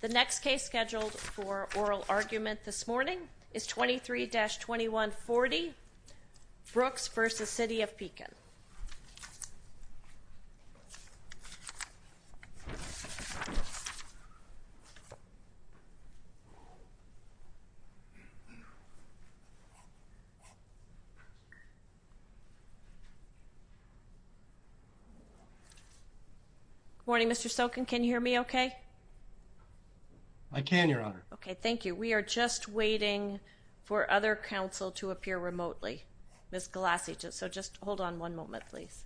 The next case scheduled for oral argument this morning is 23-2140, Brooks v. City of Good morning, Mr. Sokin. Can you hear me okay? I can, Your Honor. Okay, thank you. We are just waiting for other counsel to appear remotely. Ms. Galassi, so just hold on one moment, please.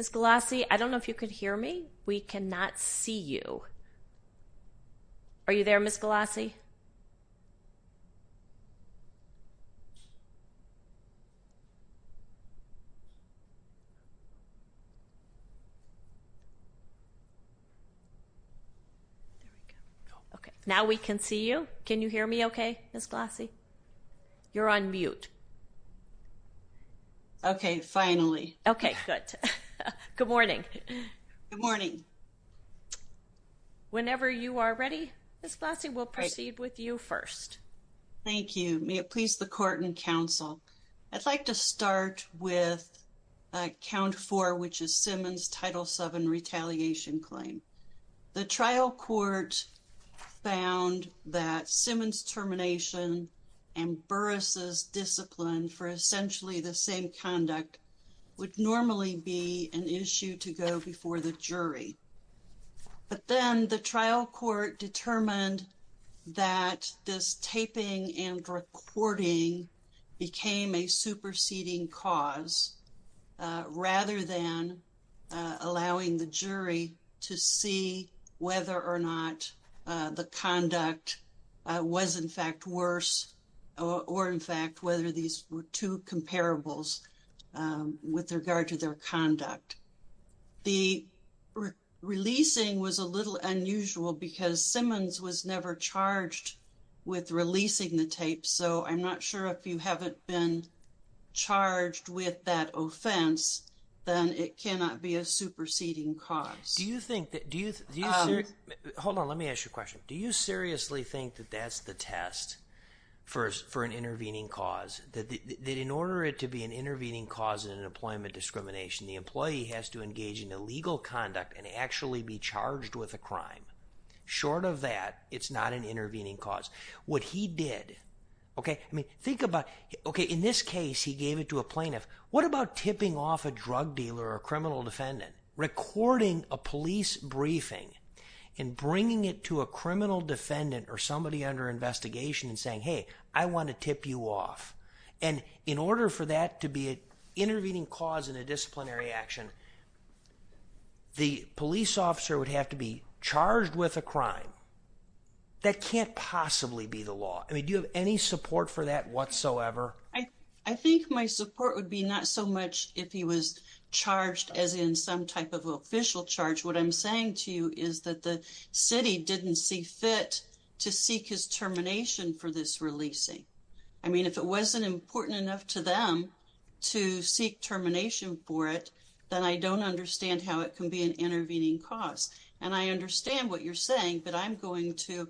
Ms. Galassi, I don't know if you can hear me. We cannot see you. Are you there, Ms. Galassi? Okay, now we can see you. Can you hear me okay, Ms. Galassi? You're on mute. Okay, finally. Okay, good. Good morning. Good morning. Whenever you are ready, Ms. Galassi, we'll proceed with you first. Thank you. May it please the Court and Counsel, I'd like to start with count four, which is Simmons Title VII retaliation claim. The trial court found that Simmons' termination and Burris' discipline for essentially the same conduct would normally be an issue to go before the jury. The jury found that this taping and recording became a superseding cause, rather than allowing the jury to see whether or not the conduct was, in fact, worse or, in fact, whether these were two comparables with regard to their conduct. The releasing was a little unusual because Simmons was never charged with releasing the tape, so I'm not sure if you haven't been charged with that offense, then it cannot be a superseding cause. Do you think that, do you, hold on, let me ask you a question. Do you seriously think that that's the test for an intervening cause? That in order it to be an intervening cause in an employment discrimination, the employee has to engage in illegal conduct and actually be charged with a crime. Short of that, it's not an intervening cause. What he did, okay, I mean, think about, okay, in this case he gave it to a plaintiff. What about tipping off a drug dealer or a criminal defendant? Recording a police briefing and bringing it to a criminal defendant or somebody under investigation and saying, hey, I want to tip you off, and in intervening cause in a disciplinary action, the police officer would have to be charged with a crime. That can't possibly be the law. I mean, do you have any support for that whatsoever? I think my support would be not so much if he was charged as in some type of official charge. What I'm saying to you is that the city didn't see fit to seek his termination for this releasing. I mean, if it wasn't important enough to them to seek termination for it, then I don't understand how it can be an intervening cause. And I understand what you're saying, but I'm going to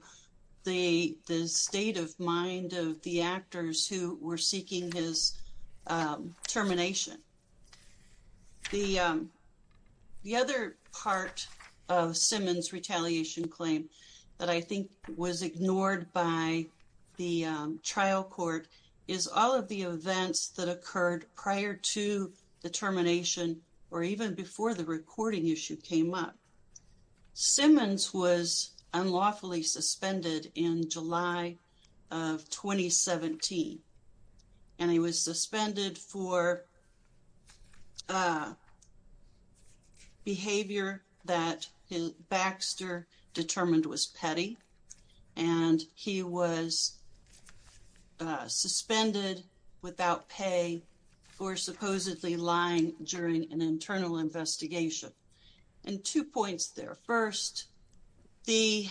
the state of mind of the actors who were seeking his termination. The other part of Simmons' retaliation claim that I think was is all of the events that occurred prior to the termination or even before the recording issue came up. Simmons was unlawfully suspended in July of 2017, and he was suspended for behavior that Baxter determined was petty, and he was suspended without pay for supposedly lying during an internal investigation. And two points there. First, the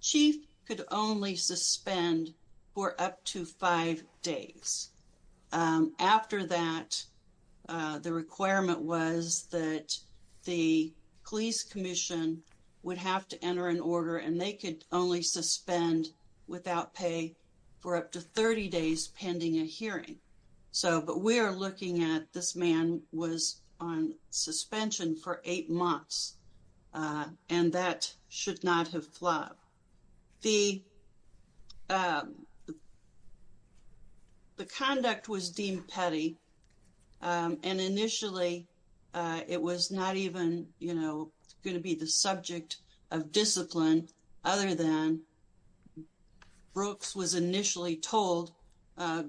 chief could only suspend for up to five days. After that, the requirement was that the police commission would have to enter an hearing. So, but we are looking at this man was on suspension for eight months, and that should not have flowed. The conduct was deemed petty, and initially it was not even, you know, going to be the subject of discipline other than what Brooks was initially told,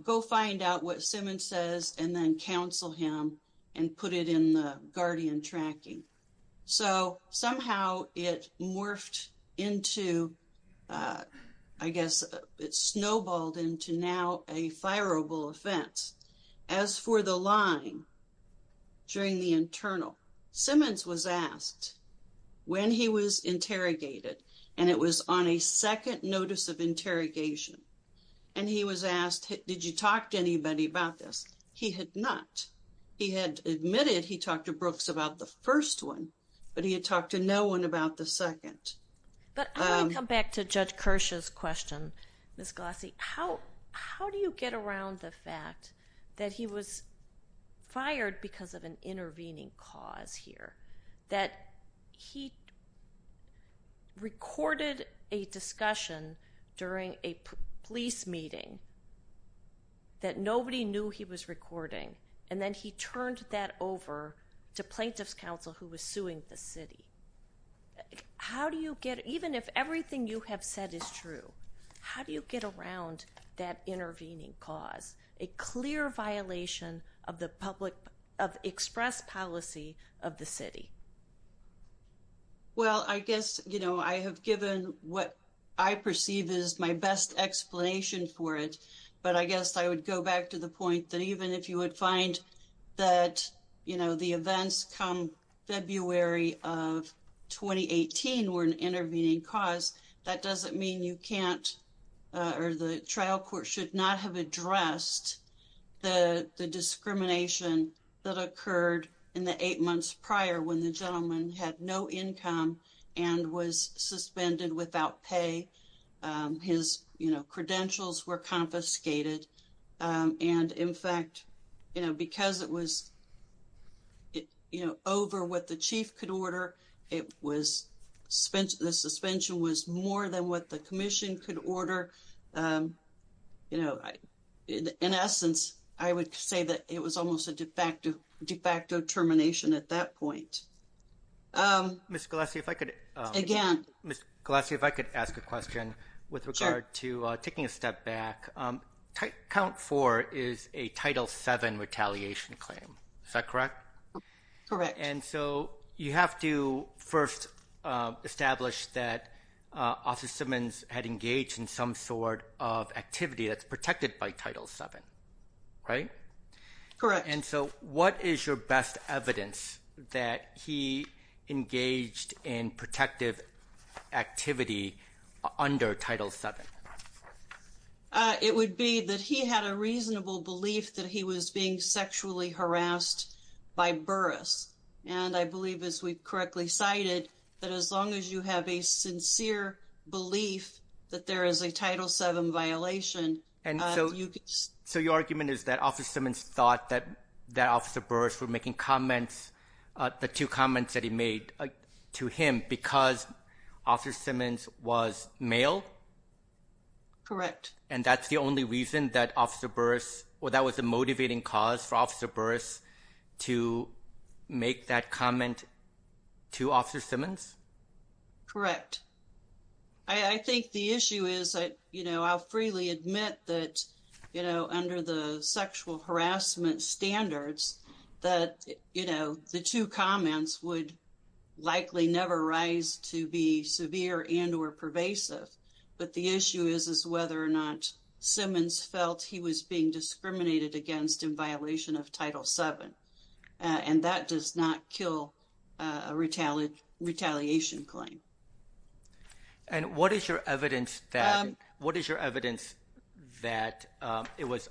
go find out what Simmons says and then counsel him and put it in the guardian tracking. So, somehow it morphed into, I guess it snowballed into now a fireable offense. As for the lying during the internal, Simmons was asked when he was interrogated, and it was on a second notice of interrogation, and he was asked, did you talk to anybody about this? He had not. He had admitted he talked to Brooks about the first one, but he had talked to no one about the second. But I want to come back to Judge Kirsch's question, Ms. Glossy. How do you get around the fact that he was fired because of an intervening cause here, that he recorded a discussion during a police meeting that nobody knew he was recording, and then he turned that over to plaintiff's counsel who was suing the city? How do you get, even if everything you have said is true, how do you get around that intervening cause, a clear violation of the public, of express policy of the city? Well, I guess, you know, I have given what I perceive is my best explanation for it, but I guess I would go back to the point that even if you would find that, you know, the events come February of 2018 were an intervening cause, that doesn't mean you should not have addressed the discrimination that occurred in the eight months prior when the gentleman had no income and was suspended without pay. His, you know, credentials were confiscated, and in fact, you know, because it was, you know, over what the chief could order, the suspension was more than what the Commission could order, you know. In essence, I would say that it was almost a de facto termination at that point. Ms. Galassi, if I could ask a question with regard to taking a step back. Count 4 is a Title 7 retaliation claim, is that correct? Correct. And so you have to first establish that Officer Simmons had engaged in some sort of activity that's protected by Title 7, right? Correct. And so what is your best evidence that he engaged in protective activity under Title 7? It would be that he had a reasonable belief that he was being sexually harassed by Burris. And I believe, as we correctly cited, that as long as you have a sincere belief that there is a Title 7 violation... And so your argument is that Officer Simmons thought that Officer Burris was making comments, the two comments that he made to him, because Officer Simmons was male? Correct. And that's the only reason that Officer Burris, or that was the motivating cause for Officer Burris to make that comment to Officer Simmons? Correct. I think the issue is that, you know, I'll freely admit that, you know, under the sexual harassment standards, that, you know, the two comments would likely never rise to be severe and or pervasive. But the issue is is whether or not Officer Simmons felt he was being discriminated against in violation of Title 7. And that does not kill a retaliation claim. And what is your evidence that, what is your evidence that it was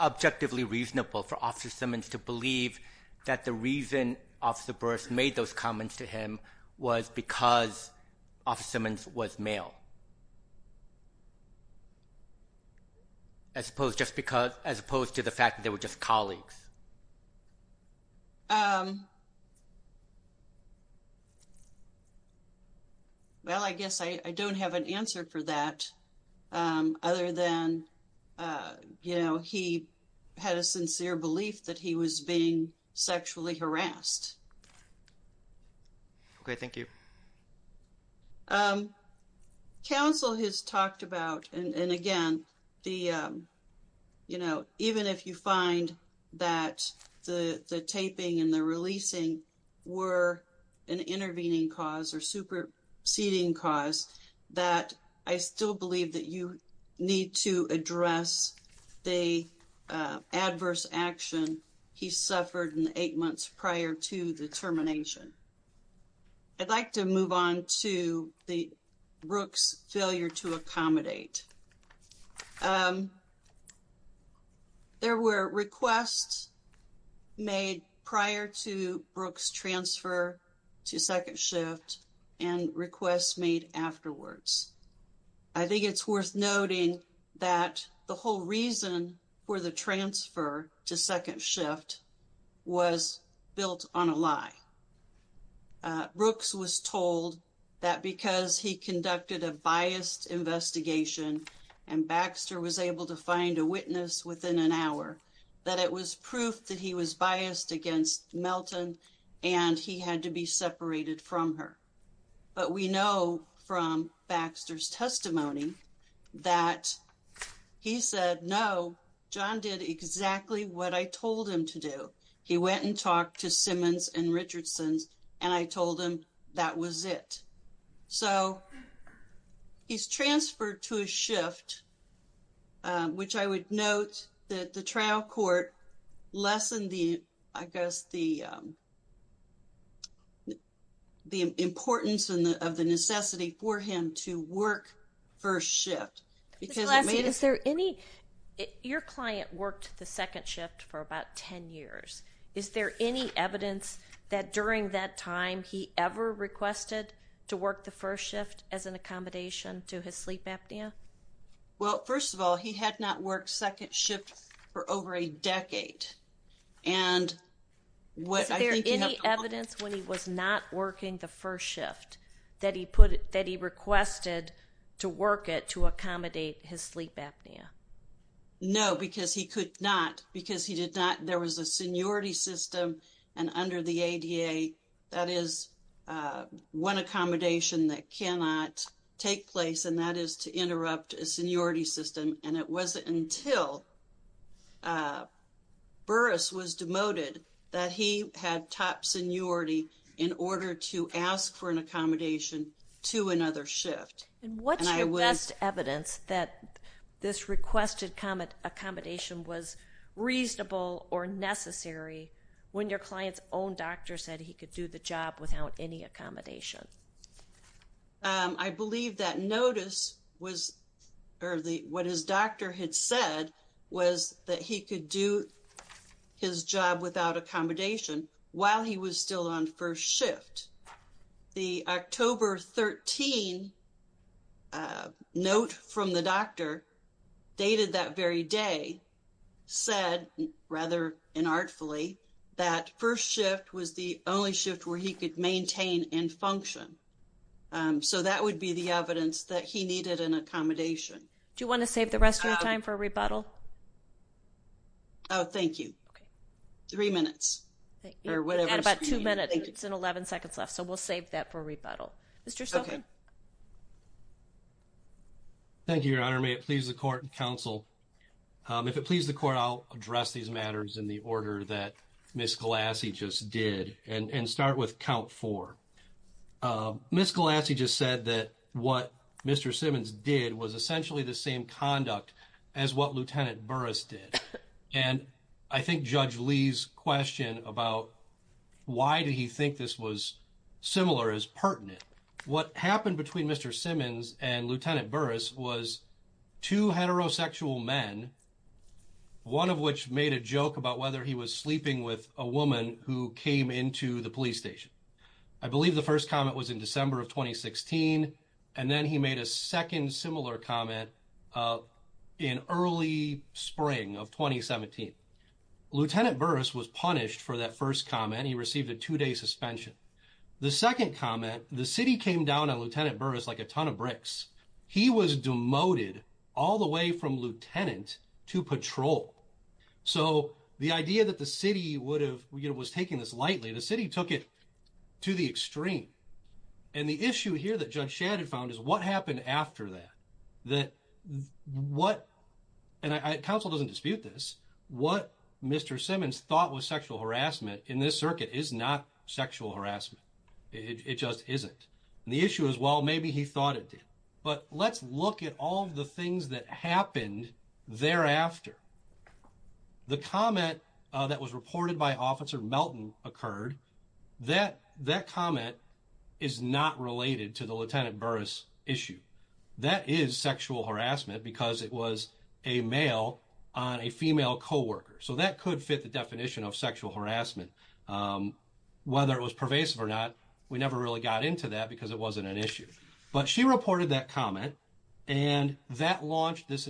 objectively reasonable for Officer Simmons to believe that the reason Officer Burris made those as opposed just because, as opposed to the fact that they were just colleagues? Well, I guess I don't have an answer for that, other than, you know, he had a Counsel has talked about, and again, the, you know, even if you find that the taping and the releasing were an intervening cause or superseding cause, that I still believe that you need to address the adverse action he suffered in the eight months prior to the termination. I'd like to move on to the Brooks failure to accommodate. There were requests made prior to Brooks transfer to second shift and requests made afterwards. I think it's worth noting that the whole reason for the transfer to second shift was built on a lie. Brooks was told that because he conducted a biased investigation and Baxter was able to find a witness within an hour, that it was proof that he was biased against Melton and he had to be separated from her. But we know from Baxter's testimony that he said, no, John did exactly what I told him to do. He went and talked to Simmons and Richardson and I told him that was it. So he's transferred to a shift, which I would note that the trial court lessened the, I guess, the importance of the necessity for him to work first shift. Is there any, your client worked the second shift for about 10 years, is there any evidence that during that time he ever requested to work the first shift as an accommodation to his sleep apnea? Well, first of all, he had not worked second shift for over a year. No, because he could not, because he did not, there was a seniority system and under the ADA that is one accommodation that cannot take place and that is to interrupt a seniority system and it wasn't until Burris was demoted that he had top seniority in order to ask for an accommodation to another shift. And what's your best evidence that this requested accommodation was reasonable or necessary when your client's own doctor said he could do the job without any accommodation? I believe that notice was, or what his doctor had said was that he could do his job without accommodation while he was still on first shift. The October 13 note from the doctor dated that very day said, rather inartfully, that first shift was the only shift where he could maintain and function. So that would be the evidence that he needed an accommodation. Do you want to save the rest of your time for a rebuttal? Oh, thank you. Three minutes. About two minutes, it's an 11 seconds left, so we'll save that for a rebuttal. Mr. Stolfi? Thank you, Your Honor. May it please the court and counsel. If it pleases the court, I'll address these matters in the order that Ms. Galassi just did and start with count four. Ms. Galassi just said that what Mr. Simmons did was essentially the same conduct as what Lieutenant Burris did. And I think Judge Lee's question about why did he think this was similar is pertinent. What happened between Mr. Simmons and Lieutenant Burris was two heterosexual men, one of which made a joke about whether he was sleeping with a woman who came into the police station. I believe the first comment was in December of 2016, and then he made a second similar comment in early spring of 2017. Lieutenant Burris was punished for that first comment. He received a two-day suspension. The second comment, the city came down on Lieutenant Burris like a ton of bricks. He was demoted all the way from lieutenant to patrol. So the idea that the city was taking this lightly, the city took it to the extreme. And the issue here that Judge Shadid found is what happened after that? And counsel doesn't dispute this. What Mr. Simmons thought was sexual harassment in this circuit is not sexual harassment. It just isn't. And the issue is, well, maybe he thought it did. But let's look at all of the things that happened thereafter. The comment that was reported by Officer Melton occurred, that comment is not related to the Lieutenant Burris issue. That is sexual harassment because it was a male on a female co-worker. So that could fit the definition of sexual harassment. Whether it was pervasive or not, we never really got into that because it wasn't an issue. But she reported that comment, and that launched this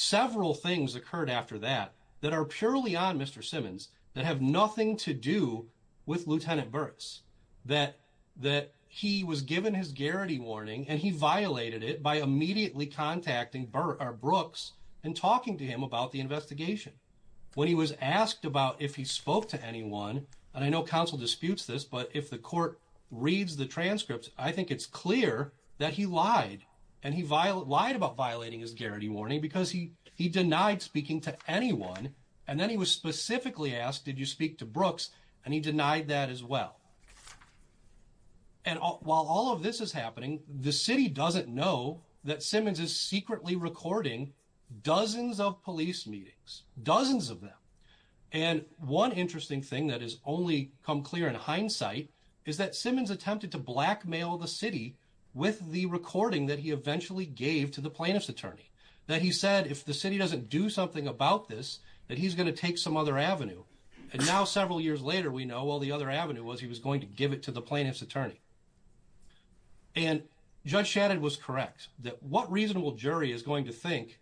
several things occurred after that, that are purely on Mr. Simmons, that have nothing to do with Lieutenant Burris. That he was given his garrity warning and he violated it by immediately contacting Brooks and talking to him about the investigation. When he was asked about if he spoke to anyone, and I know counsel disputes this, but if the court reads the transcripts, I think it's clear that he lied and he lied about violating his garrity warning because he denied speaking to anyone. And then he was specifically asked, did you speak to Brooks? And he denied that as well. And while all of this is happening, the city doesn't know that Simmons is secretly recording dozens of police meetings, dozens of them. And one interesting thing that has only come clear in hindsight is that Simmons attempted to blackmail the city with the recording that he eventually gave to the plaintiff's attorney. That he said, if the city doesn't do something about this, that he's going to take some other avenue. And now several years later, we know all the other avenue was he was going to give it to the plaintiff's attorney. And Judge Shadid was correct that what reasonable jury is going to think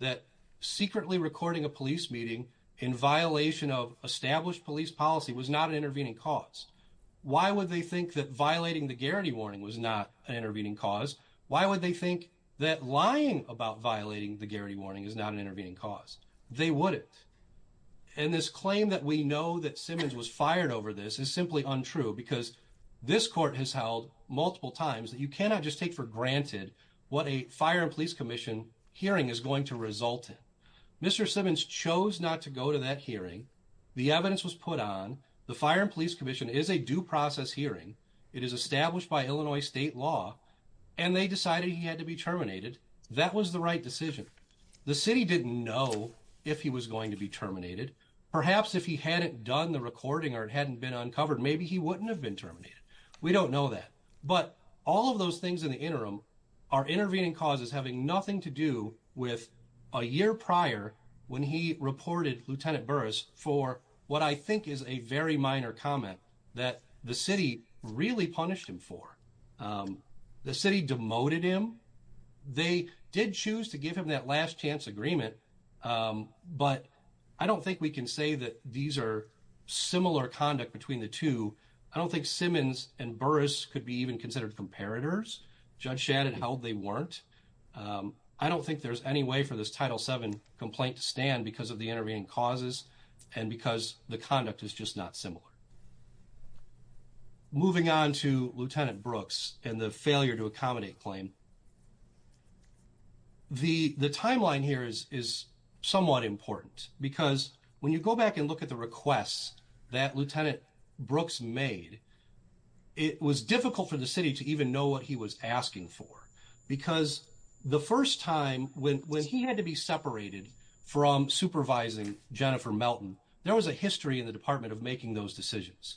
that secretly recording a police meeting in violation of established police policy was not an intervening cause. Why would they think that violating the garrity warning was not an intervening cause? Why would they think that lying about violating the garrity warning is not an intervening cause? They wouldn't. And this claim that we know that Simmons was fired over this is simply untrue because this court has held multiple times that you cannot just take for granted what a fire and the evidence was put on. The Fire and Police Commission is a due process hearing. It is established by Illinois state law and they decided he had to be terminated. That was the right decision. The city didn't know if he was going to be terminated. Perhaps if he hadn't done the recording or it hadn't been uncovered, maybe he wouldn't have been terminated. We don't know that. But all of those things in the interim are intervening causes having nothing to do with a year prior when he reported Lt. Burris for what I think is a very minor comment that the city really punished him for. The city demoted him. They did choose to give him that last chance agreement. But I don't think we can say that these are similar conduct between the two. I don't think there's any way for this Title VII complaint to stand because of the intervening causes and because the conduct is just not similar. Moving on to Lt. Brooks and the failure to accommodate claim. The timeline here is somewhat important because when you go back and look at the requests that Lt. Brooks made, it was difficult for the city to even know what he was asking for because the first time when he had to be separated from supervising Jennifer Melton, there was a history in the department of making those decisions.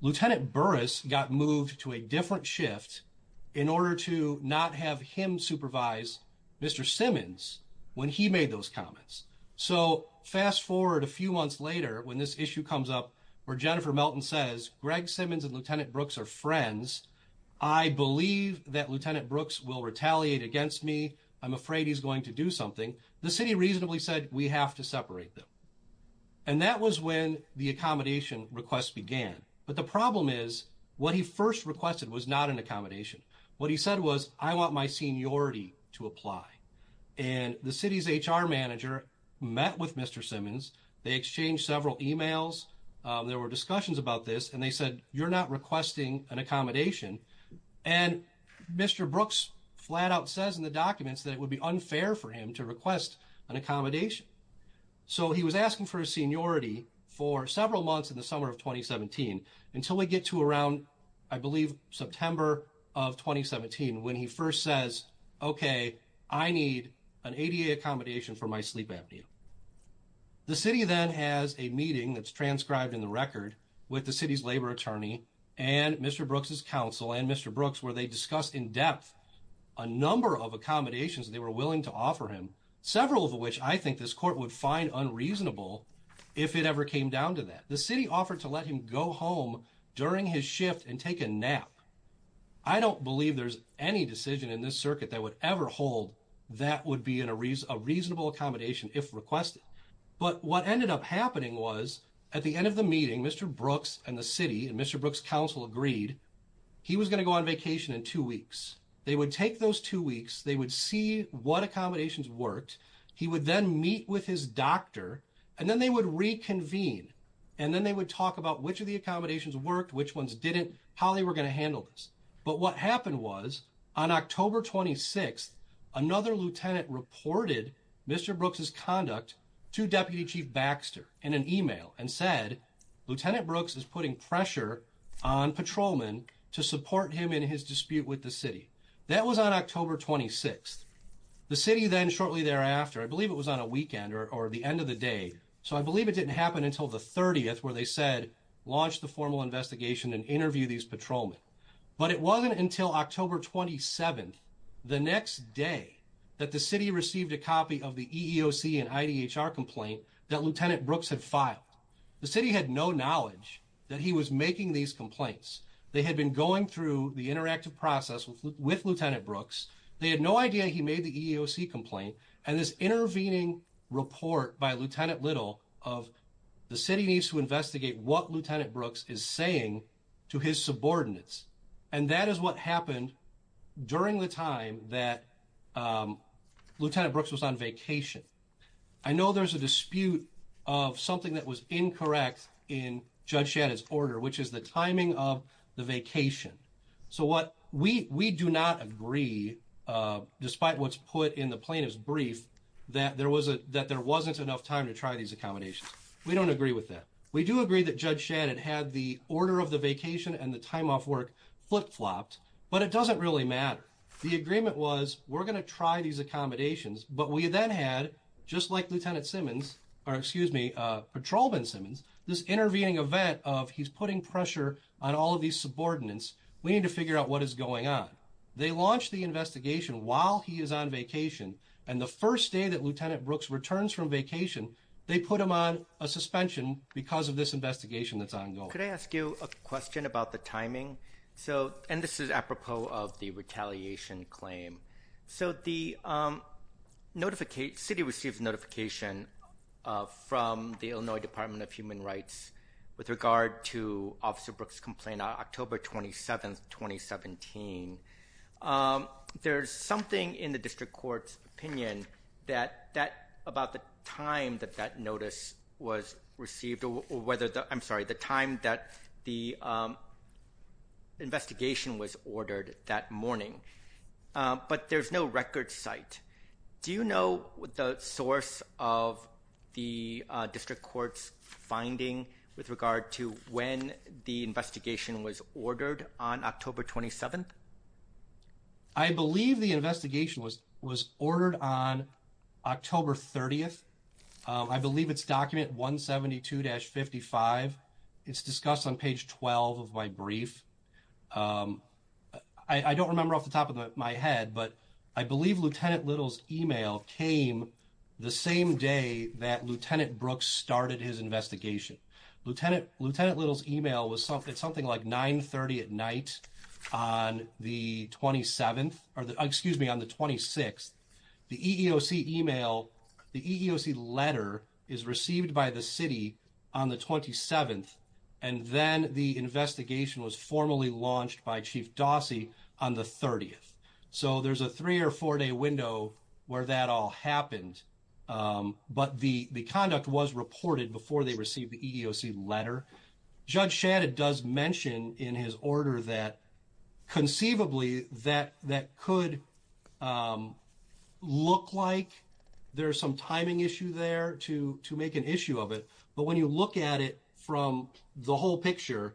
Lt. Burris got moved to a different shift in order to not have him supervise Mr. Simmons when he made those comments. So fast forward a few months later when this issue comes up where Jennifer Melton says Greg Simmons and Lt. Brooks will retaliate against me. I'm afraid he's going to do something. The city reasonably said we have to separate them. And that was when the accommodation request began. But the problem is what he first requested was not an accommodation. What he said was I want my seniority to apply. And the city's HR manager met with Mr. Simmons. They exchanged several emails. There were discussions about this and they said you're not requesting an accommodation. And Mr. Brooks flat out says in the documents that it would be unfair for him to request an accommodation. So he was asking for a seniority for several months in the summer of 2017 until we get to around I believe September of 2017 when he first says okay I need an ADA accommodation for my sleep apnea. The city then has a meeting that's transcribed in the record with the city's labor attorney and Mr. Brooks's counsel and Mr. Brooks where they discussed in depth a number of accommodations they were willing to offer him. Several of which I think this court would find unreasonable if it ever came down to that. The city offered to let him go home during his shift and take a nap. I don't believe there's any decision in this circuit that would ever hold that would be in a reasonable accommodation if requested. But what ended up happening was at the end of the meeting Mr. Brooks and the city and Mr. Brooks counsel agreed he was going to go on vacation in two weeks. They would take those two weeks they would see what accommodations worked. He would then meet with his doctor and then they would reconvene and then they would talk about which of the accommodations worked which ones didn't how they were going to handle this. But what happened was on October 26th another lieutenant reported Mr. Brooks's conduct to Deputy Chief Baxter in an email and said Lieutenant Brooks is putting pressure on patrolmen to support him in his dispute with the city. That was on October 26th. The city then shortly thereafter I believe it was on a weekend or the end of the day so I believe it didn't happen until the 30th where they said launch the formal investigation and interview these patrolmen. But it wasn't until October 27th the next day that the city received a copy of the EEOC and IDHR complaint that Lieutenant Brooks had filed. The city had no knowledge that he was making these complaints. They had been going through the interactive process with Lieutenant Brooks. They had no idea he made the EEOC complaint and this intervening report by Lieutenant Little of the city needs to investigate what Lieutenant Brooks is saying to his subordinates and that is what happened during the time that Lieutenant Brooks was on vacation. I know there's a dispute of something that was incorrect in Judge Shadid's order which is the timing of the vacation. So what we we do not agree despite what's put in the plaintiff's that there wasn't enough time to try these accommodations. We don't agree with that. We do agree that Judge Shadid had the order of the vacation and the time off work flip-flopped but it doesn't really matter. The agreement was we're going to try these accommodations but we then had just like Lieutenant Simmons or excuse me Patrolman Simmons this intervening event of he's putting pressure on all of these subordinates we need to figure out what is going on. They from vacation they put him on a suspension because of this investigation that's ongoing. Could I ask you a question about the timing so and this is apropos of the retaliation claim. So the notificate city receives notification from the Illinois Department of Human Rights with regard to Officer Brooks complaint on October 27th 2017. There's something in the about the time that that notice was received or whether the I'm sorry the time that the investigation was ordered that morning but there's no record site. Do you know the source of the district court's finding with regard to when the investigation was ordered on October 27th? I believe the investigation was was ordered on October 30th. I believe it's document 172-55. It's discussed on page 12 of my brief. I don't remember off the top of my head but I believe Lieutenant Little's email came the same day that Lieutenant Brooks started his investigation. Lieutenant Little's email was something something like 9 30 at night on the 27th or the excuse me on the 26th. The EEOC email the EEOC letter is received by the city on the 27th and then the investigation was formally launched by Chief Dossie on the 30th. So there's a three or four day window where that all happened but the the conduct was reported before they received the EEOC letter. Judge Shadid does mention in his order that conceivably that that could look like there's some timing issue there to to make an issue of it but when you look at it from the whole picture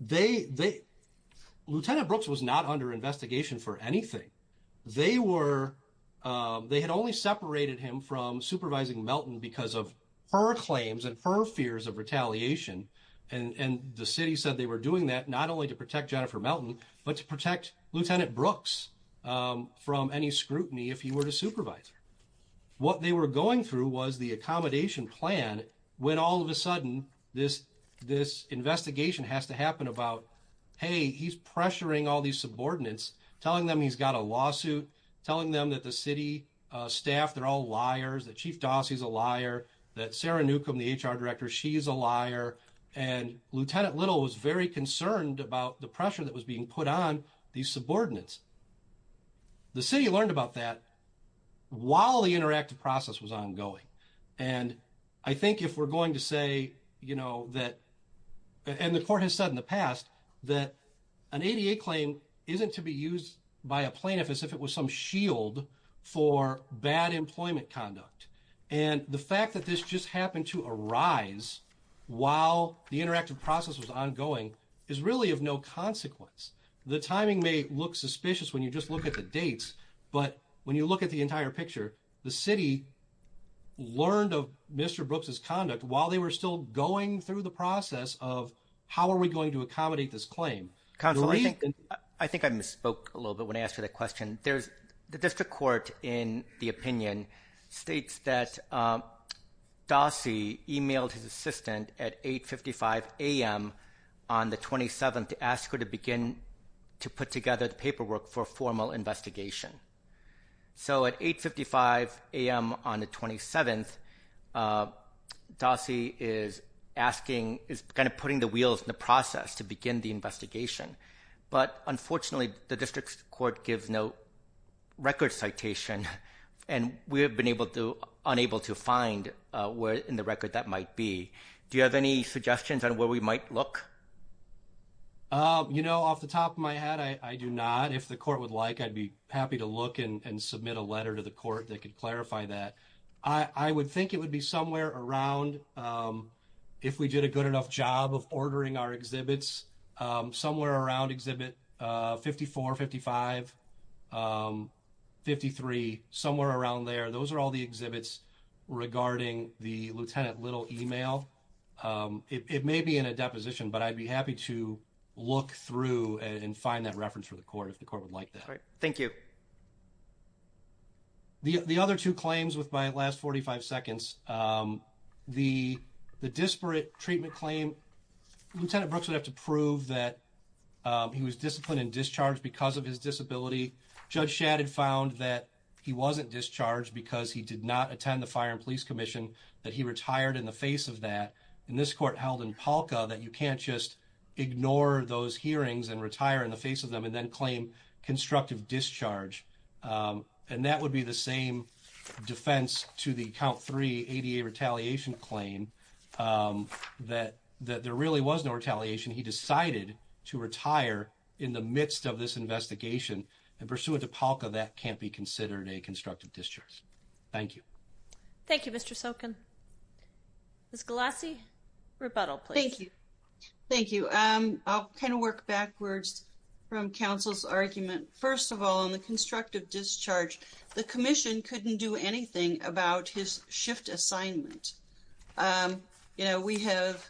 they they Lieutenant Brooks was not under investigation for anything. They were they had only separated him from supervising Melton because of her claims and her fears of retaliation and and the city said they were doing that not only to protect Jennifer Melton but to protect Lieutenant Brooks from any scrutiny if he were to supervise. What they were going through was the accommodation plan when all of a sudden this this investigation has to happen about hey he's pressuring all these subordinates telling them he's got a lawsuit telling them that the city staff they're all liars that Chief Dossie's a liar that Sarah Newcomb the HR director she is a liar and Lieutenant Little was very concerned about the pressure that was being put on these subordinates. The city learned about that while the interactive process was ongoing and I think if we're going to say you know that and the court has said in the past that an ADA claim isn't to be used by a plaintiff as if it was some shield for bad employment conduct and the fact that this just happened to arise while the interactive process was ongoing is really of no consequence. The timing may look the entire picture the city learned of Mr. Brooks's conduct while they were still going through the process of how are we going to accommodate this claim. Counselor, I think I misspoke a little bit when I asked you that question. There's the district court in the opinion states that Dossie emailed his assistant at 8 55 a.m on the 27th to ask her to begin to put together the paperwork for formal investigation. So at 8 55 a.m on the 27th Dossie is asking is kind of putting the wheels in the process to begin the investigation but unfortunately the district court gives no record citation and we have been able to unable to find where in the record that might be. Do you have any suggestions on where we might look? You know off the top of my head I do not. If the court would like I'd be happy to look and submit a letter to the court that could clarify that. I would think it would be somewhere around if we did a good enough job of ordering our exhibits somewhere around exhibit 54, 55, 53 somewhere around there those are all the exhibits regarding the lieutenant little email. It may be in a deposition but I'd be happy to look through and find that reference for the court if the court would like that. Thank you. The other two claims with my last 45 seconds the disparate treatment claim lieutenant Brooks would have to prove that he was disciplined and discharged because of his disability. Judge Shad had found that he wasn't discharged because he did not attend the fire and police commission. That he retired in the face of that and this court held in Polka that you can't just ignore those hearings and retire in the face of them and then claim constructive discharge. And that would be the same defense to the count three ADA retaliation claim that that there really was no retaliation. He decided to retire in the midst of this investigation and pursuant to Polka that can't be considered a constructive discharge. Thank you. Thank you Mr. Sokin. Ms. Galassi, rebuttal please. Thank you. Thank you. I'll kind of work backwards from counsel's argument. First of all on the constructive discharge the commission couldn't do anything about his shift assignment. You know we have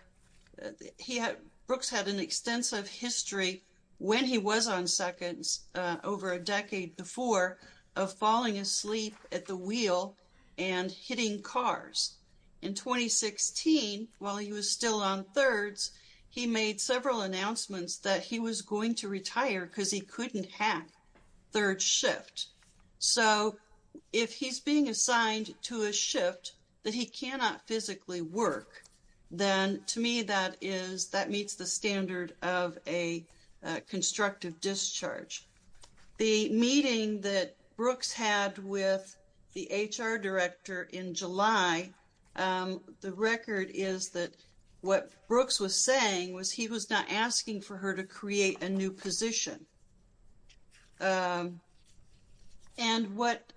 he had Brooks had an extensive history when he was on seconds over a decade before of falling asleep at the wheel and hitting cars. In 2016 while he was still on thirds he made several announcements that he was going to retire because he couldn't hack third shift. So if he's being assigned to a shift that he cannot physically work then to me that is that meets the standard of a constructive discharge. The meeting that Brooks had with the HR director in July the record is that what Brooks was saying was he was not asking for her to create a new position. And what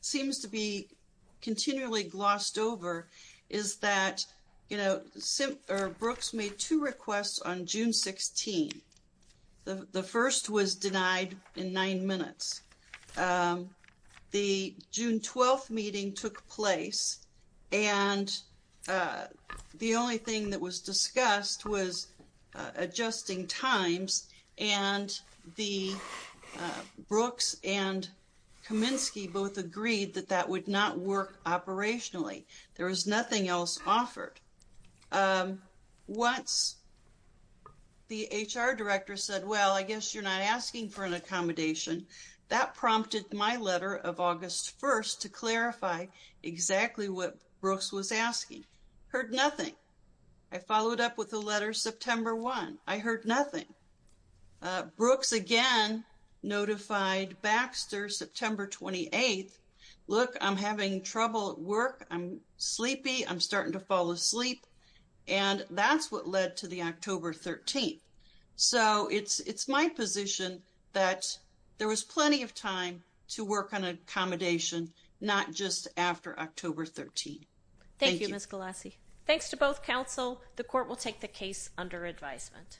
seems to be continually glossed over is that you know Brooks made two requests on June 16. The first was denied in nine minutes. The June 12th meeting took place and the only thing that was discussed was adjusting times and the Brooks and Kaminsky both agreed that that would not work operationally. There was nothing else offered. Once the HR director said well I guess you're not asking for an accommodation that prompted my letter of August 1st to clarify exactly what Brooks was asking. Heard nothing. I followed up with the letter September 1. I heard nothing. Brooks again notified Baxter September 28th look I'm having trouble at work. I'm sleepy. I'm starting to fall asleep and that's what led to the October 13th. So it's it's my position that there was plenty of time to work on accommodation not just after October 13. Thank you Ms. Galassi. Thanks to both counsel. The court will take the case under advisement.